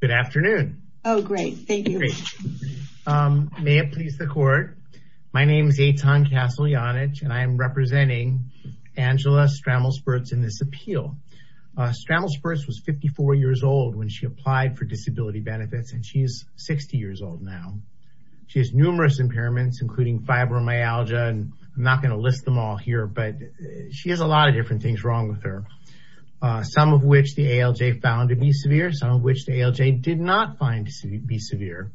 Good afternoon. Oh, great. Thank you. May it please the court. My name is Eitan Castle-Janich and I am representing Angela Stramol-Spirz in this appeal. Stramol-Spirz was 54 years old when she applied for disability benefits and she is 60 years old now. She has numerous impairments including fibromyalgia and I'm not going to list them all here but she has a lot of different things wrong with her. Some of which the ALJ found to be severe, some of which the ALJ did not find to be severe.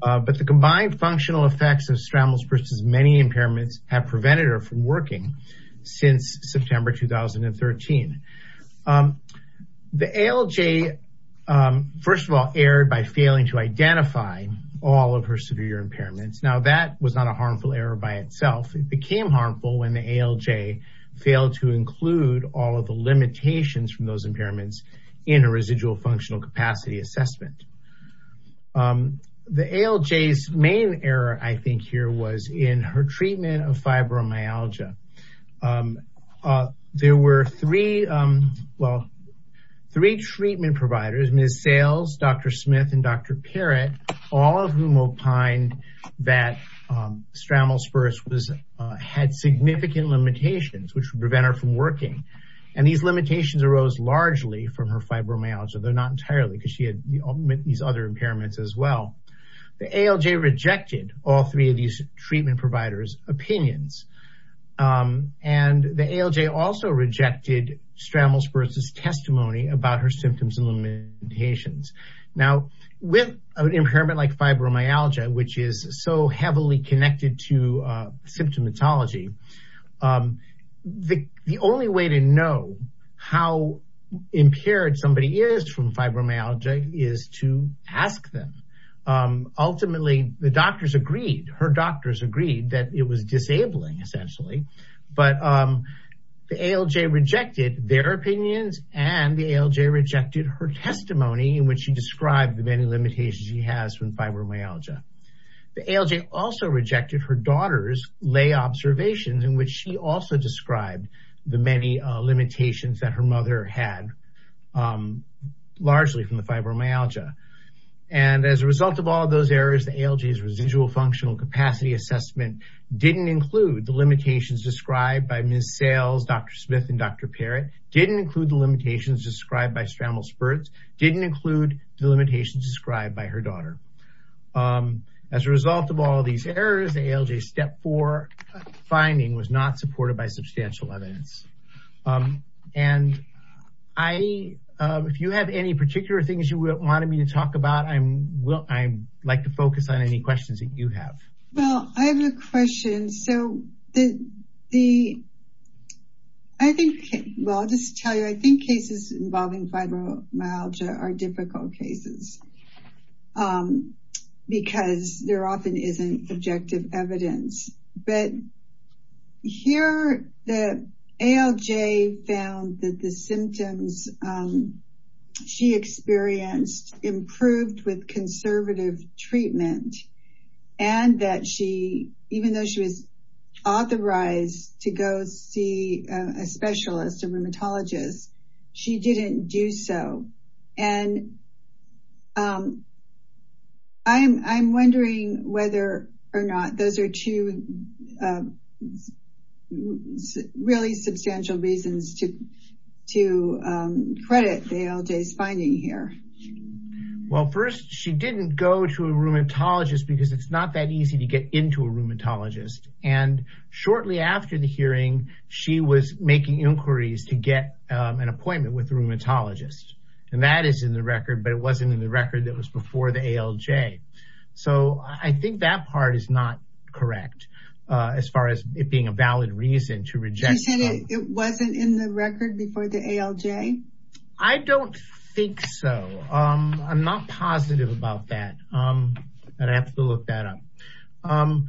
But the combined functional effects of Stramol-Spirz's many impairments have prevented her from working since September 2013. The ALJ first of all erred by failing to identify all of her severe impairments. Now that was not a harmful error by itself. It became harmful when the ALJ failed to include all of the limitations from those impairments in a residual functional capacity assessment. The ALJ's main error I think here was in her treatment of fibromyalgia. There were three treatment providers, Ms. Sales, Dr. Smith, and Dr. Parrott, all of whom opined that Stramol-Spirz had significant limitations which would prevent her from working. And these limitations arose largely from her fibromyalgia, though not entirely because she had these other impairments as well. The ALJ rejected all three of these treatment providers' opinions. And the ALJ also rejected Stramol-Spirz's testimony about her symptoms and with an impairment like fibromyalgia, which is so heavily connected to symptomatology, the only way to know how impaired somebody is from fibromyalgia is to ask them. Ultimately, the doctors agreed, her doctors agreed that it was disabling essentially. But the ALJ rejected their opinions, and the ALJ rejected her testimony in which she described the many limitations she has from fibromyalgia. The ALJ also rejected her daughter's lay observations in which she also described the many limitations that her mother had largely from the fibromyalgia. And as a result of all of those errors, the ALJ's residual functional capacity assessment didn't include the limitations described by Ms. Sales, Dr. Smith, and Dr. Parrott, didn't include the limitations described by Stramol-Spirz, didn't include the limitations described by her daughter. As a result of all of these errors, the ALJ's step four finding was not supported by substantial evidence. And if you have any particular things you wanted me to talk about, I'd like to focus on any questions that you have. Well, I have a question. So I think, well, I'll just tell you, I think cases involving fibromyalgia are difficult cases because there often isn't objective evidence. But here the ALJ found that the symptoms she experienced improved with conservative treatment and that she, even though she was authorized to go see a specialist, a rheumatologist, she didn't do so. And I'm wondering whether or not those are two really substantial reasons to credit the ALJ's finding here. Well, first, she didn't go to a rheumatologist because it's not that easy to get into a an appointment with a rheumatologist. And that is in the record, but it wasn't in the record that was before the ALJ. So I think that part is not correct as far as it being a valid reason to reject. You said it wasn't in the record before the ALJ? I don't think so. I'm not positive about that. I'd have to look that up.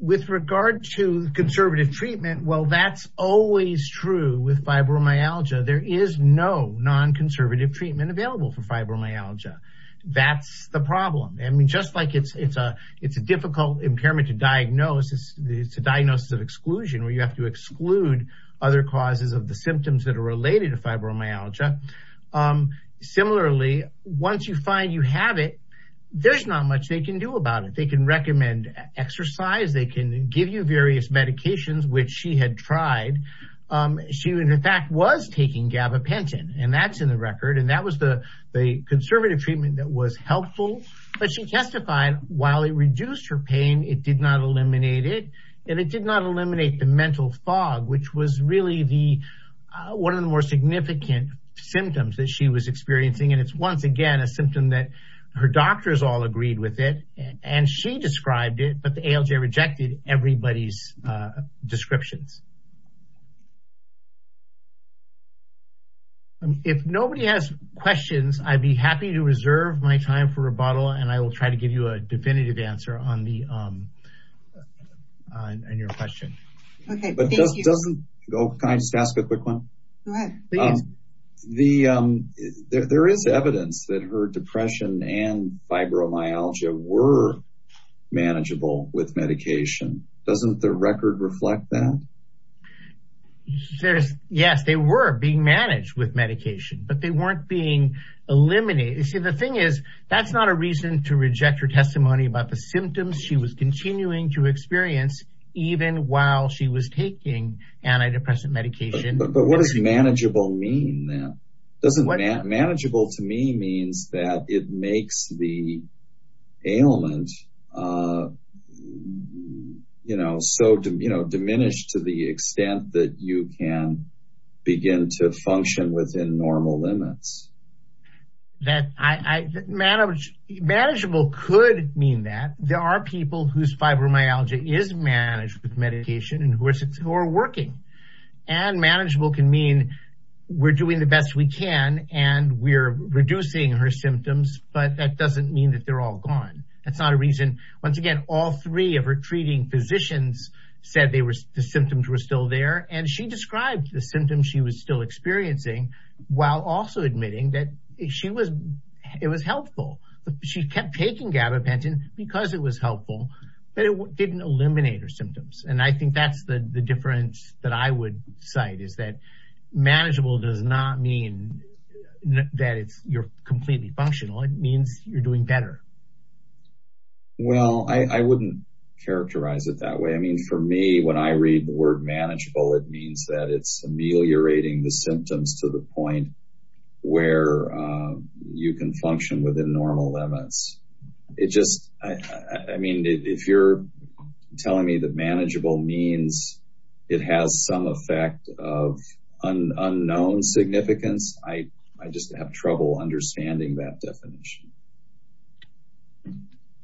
With regard to conservative treatment, well, that's always true with fibromyalgia. There is no non-conservative treatment available for fibromyalgia. That's the problem. I mean, just like it's a difficult impairment to diagnose, it's a diagnosis of exclusion where you have to exclude other causes of the symptoms that are related to fibromyalgia. Similarly, once you find you have it, there's not much they can do about it. They can recommend exercise. They can give you various medications, which she had tried. She, in fact, was taking gabapentin, and that's in the record, and that was the conservative treatment that was helpful. But she testified while it reduced her pain, it did not eliminate it, and it did not eliminate the mental fog, which was really one of the more significant symptoms that she was experiencing. And it's once again a symptom that her doctors all agreed with it, and she described it, but the ALJ rejected everybody's descriptions. If nobody has questions, I'd be happy to reserve my time for rebuttal, and I will try to give you a definitive answer on your question. Okay, thank you. Can I just ask a quick one? Go ahead. There is evidence that her depression and fibromyalgia were manageable with medication. Doesn't the record reflect that? Yes, they were being managed with medication, but they weren't being eliminated. See, the thing is that's not a reason to reject her testimony about the symptoms she was continuing to experience, even while she was taking antidepressant medication. But what does manageable mean then? Manageable to me means that it makes the ailment so diminished to the extent that you can begin to function within normal limits. Manageable could mean that. There are people whose fibromyalgia is managed with medication and who are working, and manageable can mean we're doing the best we can and we're reducing her symptoms, but that doesn't mean that they're all gone. That's not a reason. Once again, all three of her treating physicians said the symptoms were still there, and she described the symptoms she was still experiencing while also admitting that it was helpful. She kept taking gabapentin because it was helpful, but it didn't eliminate her symptoms. And I think that's the difference that I would cite is that manageable does not mean that you're completely functional. It means you're doing better. Well, I wouldn't characterize it that way. I mean, for me, when I read the word manageable, it means that it's ameliorating the symptoms to the point where you can function within normal limits. I mean, if you're telling me that manageable means it has some effect of unknown significance, I just have trouble understanding that definition.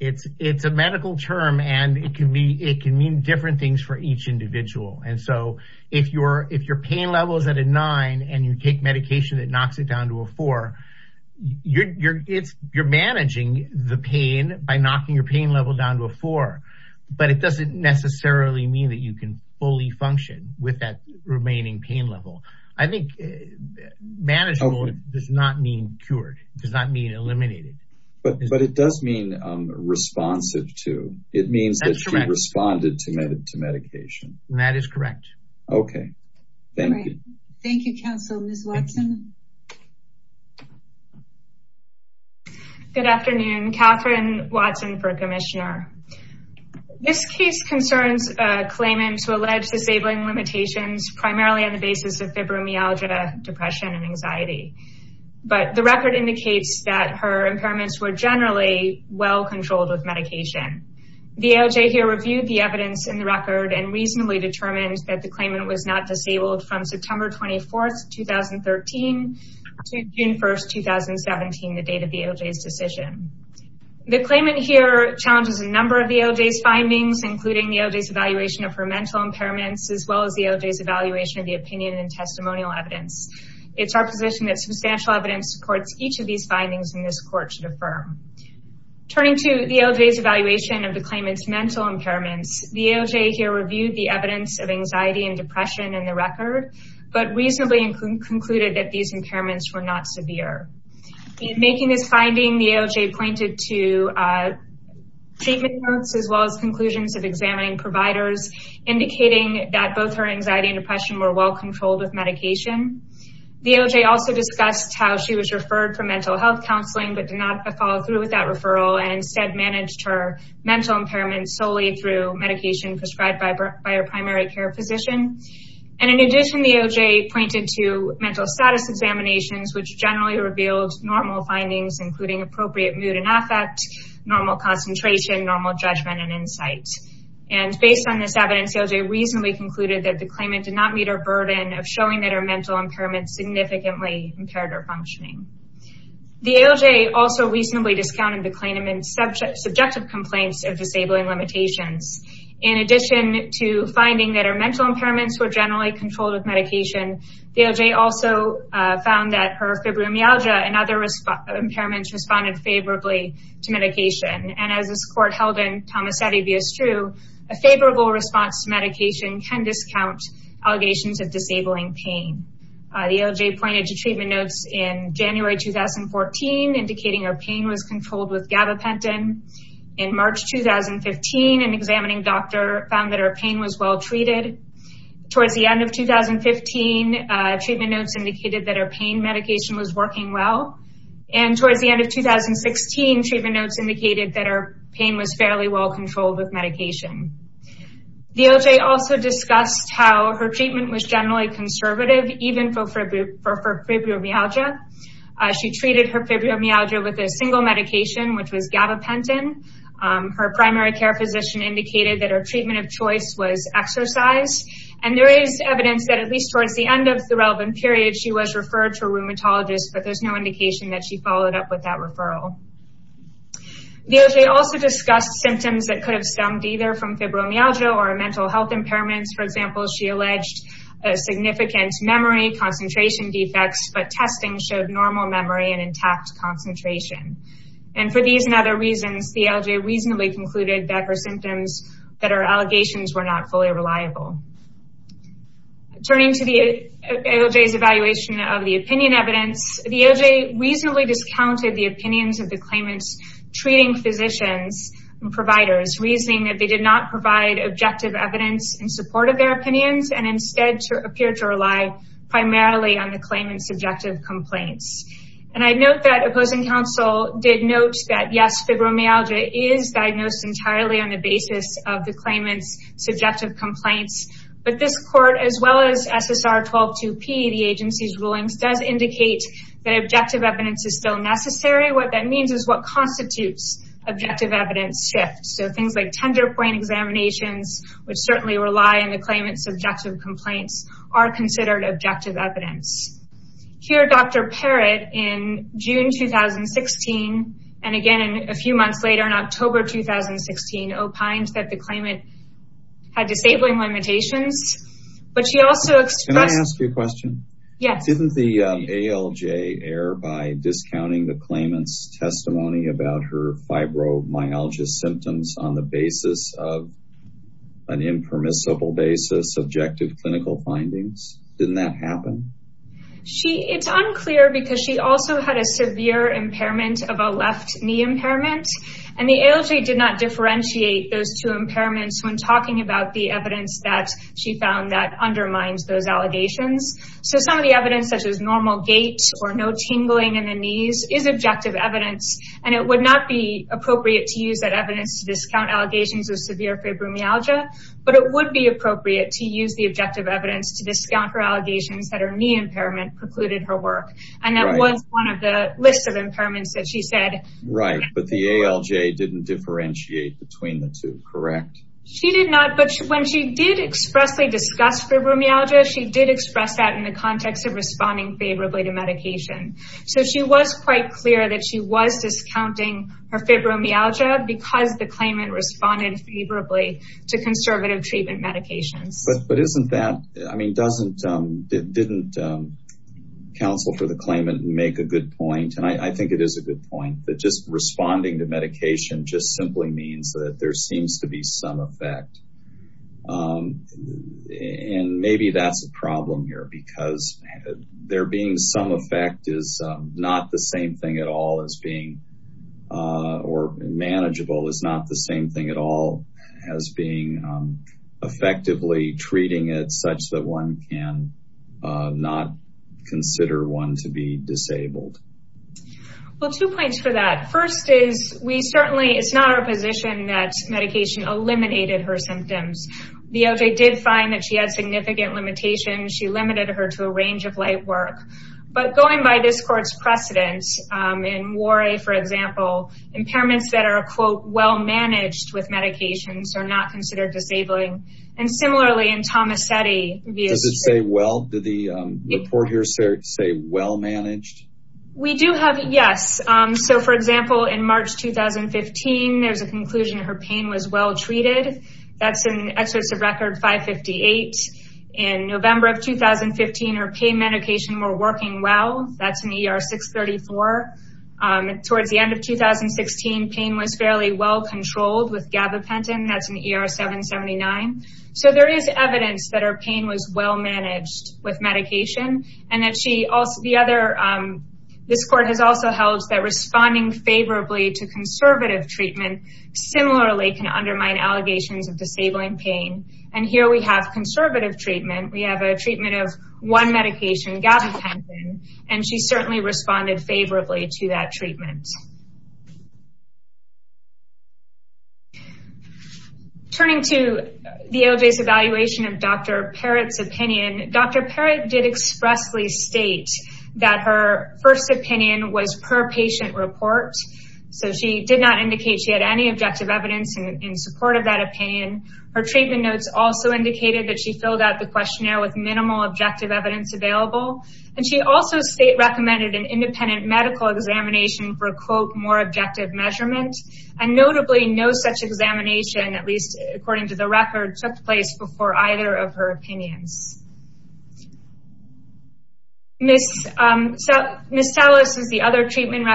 It's a medical term, and it can mean different things for each individual. And so, if your pain level is at a nine, and you take medication that knocks it down to a four, you're managing the pain by knocking your pain level down to a four, but it doesn't necessarily mean that you can fully function with that remaining pain level. I think manageable does not mean cured. It does not mean eliminated. But it does mean responsive, too. It means that she responded to medication. That is correct. Okay. Thank you. Thank you, counsel. Ms. Watson. Good afternoon. Catherine Watson for Commissioner. This case concerns claimants who allege disabling limitations, primarily on the basis of fibromyalgia, depression, and anxiety. But the record indicates that her impairments were generally well-controlled with medication. The AOJ here reviewed the evidence in the record and reasonably determined that the claimant was not disabled from September 24, 2013 to June 1, 2017, the date of the AOJ's decision. The claimant here challenges a number of the AOJ's findings, including the AOJ's evaluation of her mental impairments as well as the AOJ's evaluation of the opinion and testimonial evidence. It's our position that substantial evidence supports each of these findings in this court should affirm. Turning to the AOJ's evaluation of the claimant's mental impairments, the AOJ here reviewed the evidence of anxiety and depression in the record, but reasonably concluded that these impairments were not severe. In making this finding, the AOJ pointed to treatment notes as well as conclusions of examining providers, indicating that both her anxiety and depression were well-controlled with medication. The AOJ also discussed how she was referred for mental health counseling but did not follow through with that referral and instead managed her mental impairments solely through medication prescribed by her primary care physician. In addition, the AOJ pointed to mental status examinations, which generally revealed normal affect, normal concentration, normal judgment, and insight. Based on this evidence, the AOJ reasonably concluded that the claimant did not meet her burden of showing that her mental impairments significantly impaired her functioning. The AOJ also reasonably discounted the claimant's subjective complaints of disabling limitations. In addition to finding that her mental impairments were generally controlled with medication, the AOJ also found that her fibromyalgia and other impairments responded favorably to medication. As this court held in Tomasetti v. Struh, a favorable response to medication can discount allegations of disabling pain. The AOJ pointed to treatment notes in January 2014 indicating her pain was controlled with gabapentin. In March 2015, an examining doctor found that her pain was well-treated. Towards the end of 2016, treatment notes indicated that her pain was fairly well-controlled with medication. The AOJ also discussed how her treatment was generally conservative, even for fibromyalgia. She treated her fibromyalgia with a single medication, which was gabapentin. Her primary care physician indicated that her treatment of choice was exercise. There is evidence that, at least towards the end of the relevant period, she was referred to a physician. The AOJ also discussed symptoms that could have stemmed either from fibromyalgia or mental health impairments. For example, she alleged significant memory and concentration defects, but testing showed normal memory and intact concentration. For these and other reasons, the AOJ reasonably concluded that her symptoms and allegations were not fully reliable. Turning to the AOJ's evaluation of the opinion evidence, the AOJ reasonably discounted the opinions of the claimant's treating physicians and providers, reasoning that they did not provide objective evidence in support of their opinions and instead appeared to rely primarily on the claimant's subjective complaints. I note that opposing counsel did note that, yes, fibromyalgia is diagnosed entirely on the basis of the claimant's subjective complaints, but this court, as well as SSR 122P, the agency's rulings, does indicate that objective evidence is still necessary. What that means is what constitutes objective evidence shifts. Things like tender point examinations, which certainly rely on the claimant's subjective complaints, are considered objective evidence. Here, Dr. Parrott, in June 2016, and again a few months later in October 2016, opined that the claimant had disabling limitations, but she also expressed... Can I ask you a question? Yes. Didn't the AOJ err by discounting the claimant's testimony about her fibromyalgia symptoms on the didn't that happen? It's unclear because she also had a severe impairment of a left knee impairment, and the AOJ did not differentiate those two impairments when talking about the evidence that she found that undermines those allegations. So some of the evidence, such as normal gait or no tingling in the knees, is objective evidence, and it would not be appropriate to use that evidence to discount allegations of severe fibromyalgia, but it would be appropriate to use the objective evidence to discount her allegations that her knee impairment precluded her work, and that was one of the lists of impairments that she said... Right, but the AOJ didn't differentiate between the two, correct? She did not, but when she did expressly discuss fibromyalgia, she did express that in the context of responding favorably to medication. So she was quite clear that she was discounting her fibromyalgia because the claimant responded favorably to conservative treatment medications. But isn't that... I mean, doesn't... didn't counsel for the claimant make a good point, and I think it is a good point, that just responding to medication just simply means that there seems to be some effect, and maybe that's a problem here because there being some effect is not the same thing at all as being... or manageable is not the same thing at all as being effectively treating it such that one can not consider one to be disabled. Well, two points for that. First is, we certainly... it's not our position that medication eliminated her symptoms. The AOJ did find that she had significant limitations. She limited her to a range of light work, but going by this court's precedence, in Warre, for example, impairments that are, quote, well-managed with medications are not considered disabling. And similarly, in Tomasetti... Does it say well? Did the report here say well-managed? We do have... yes. So for example, in March 2015, there's a conclusion her pain was well-treated. That's in Exodus of Record 558. In November of 2015, her pain medication were working well. That's in ER 634. Towards the end of 2016, pain was fairly well-controlled with gabapentin. That's in ER 779. So there is evidence that her pain was well-managed with medication, and that she... this court has also held that responding favorably to conservative treatment similarly can undermine allegations of disabling pain. And here we have conservative treatment. We have a treatment of one medication, gabapentin, and she certainly responded favorably to that treatment. Turning to the AOJ's evaluation of Dr. Parrott's opinion, Dr. Parrott did expressly state that her first opinion was per patient report. So she did not indicate she had any objective evidence in support of that opinion. Her treatment notes also indicated that she filled out the questionnaire with minimal objective evidence available. And she also state recommended an independent medical examination for, quote, more objective measurement. And notably, no such examination, at least according to the record, took place before either of her opinions. Ms. Salas is the other treatment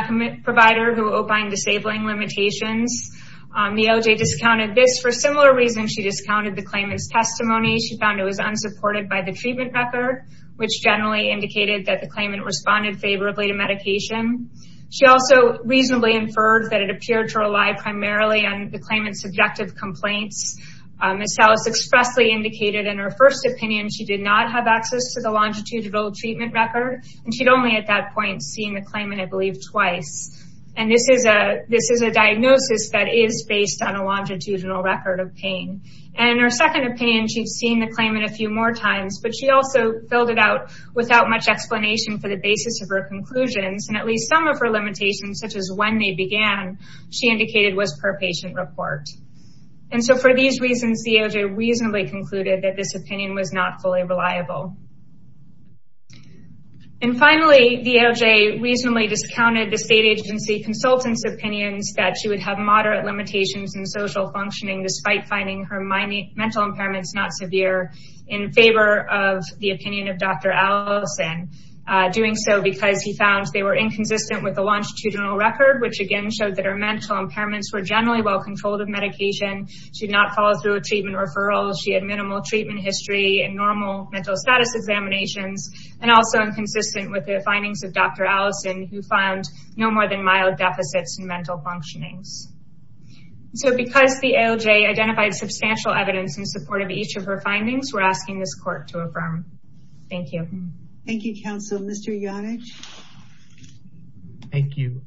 provider who opined disabling limitations. The AOJ discounted this. For similar reasons, she discounted the claimant's testimony. She found it was unsupported by the treatment record, which generally indicated that the claimant responded favorably to medication. She also reasonably inferred that it appeared to rely primarily on the claimant's subjective complaints. Ms. Salas expressly indicated in her first opinion she did not have access to the longitudinal treatment record, and she'd only at that point seen the claimant, I believe, twice. And this is a diagnosis that is based on a longitudinal record of pain. And in her second opinion, she'd seen the claimant a few more times, but she also filled it out without much explanation for the basis of her conclusions. And at least some of her limitations, such as began, she indicated was per patient report. And so for these reasons, the AOJ reasonably concluded that this opinion was not fully reliable. And finally, the AOJ reasonably discounted the state agency consultant's opinions that she would have moderate limitations in social functioning despite finding her mental impairments not severe in favor of the opinion of Dr. Allison, doing so because he found they were inconsistent with the longitudinal record, which again showed that her mental impairments were generally well controlled of medication. She did not follow through a treatment referral. She had minimal treatment history and normal mental status examinations, and also inconsistent with the findings of Dr. Allison, who found no more than mild deficits in mental functionings. So because the AOJ identified substantial evidence in support of each of her findings, we're asking this court to affirm. Thank you. Thank you, counsel. Mr. Yonich. Thank you.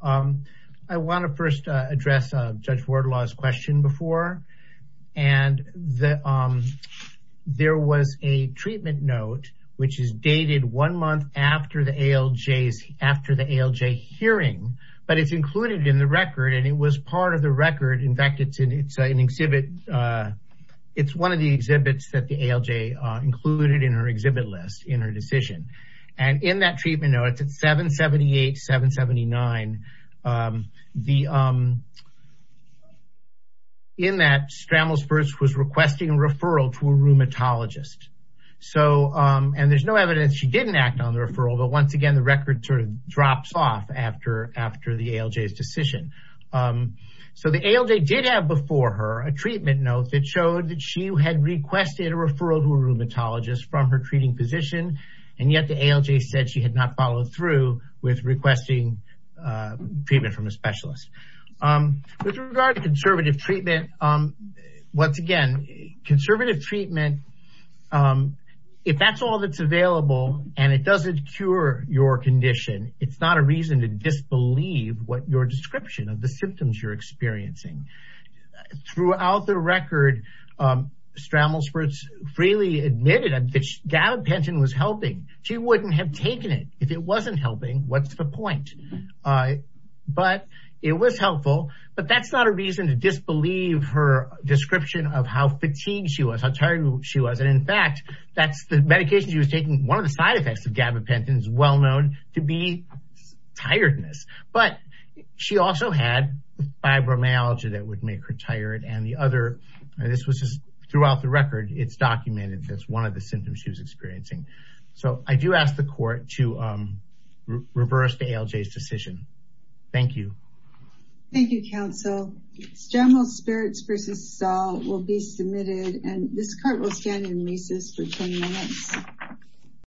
I want to first address Judge Wardlaw's question before. And there was a treatment note, which is dated one month after the AOJ hearing, but it's included in the record. And it was part of the record. In fact, it's an exhibit. It's one of the exhibits that the AOJ included in her exhibit list in her decision. And in that treatment note, it's at 778-779. In that, Strammel's first was requesting a referral to a rheumatologist. And there's no evidence she didn't act on the referral. But once again, the record sort of drops off after the AOJ's decision. So the AOJ did have before her a treatment note that showed that she had requested a referral to a rheumatologist from her treating physician. And yet the AOJ said she had not followed through with requesting treatment from a specialist. With regard to conservative treatment, once again, conservative treatment, if that's all that's available, and it doesn't cure your condition, it's not a reason to disbelieve what your description of the symptoms you're experiencing. Throughout the record, Strammel's first freely admitted that gabapentin was helping. She wouldn't have taken it if it wasn't helping. What's the point? But it was helpful. But that's not a reason to disbelieve her description of how fatigued she was, how tired she was. And in fact, that's the medication she was taking. One of the side effects of gabapentin is well known to be tiredness. But she also had fibromyalgia that would make her tired. And the other, this was just throughout the record, it's documented as one of the symptoms she was experiencing. So I do ask the court to reverse the AOJ's decision. Thank you. Thank you, counsel. Strammel's Spirits v. Saul will be submitted. And this court will stand in recess for 10 minutes.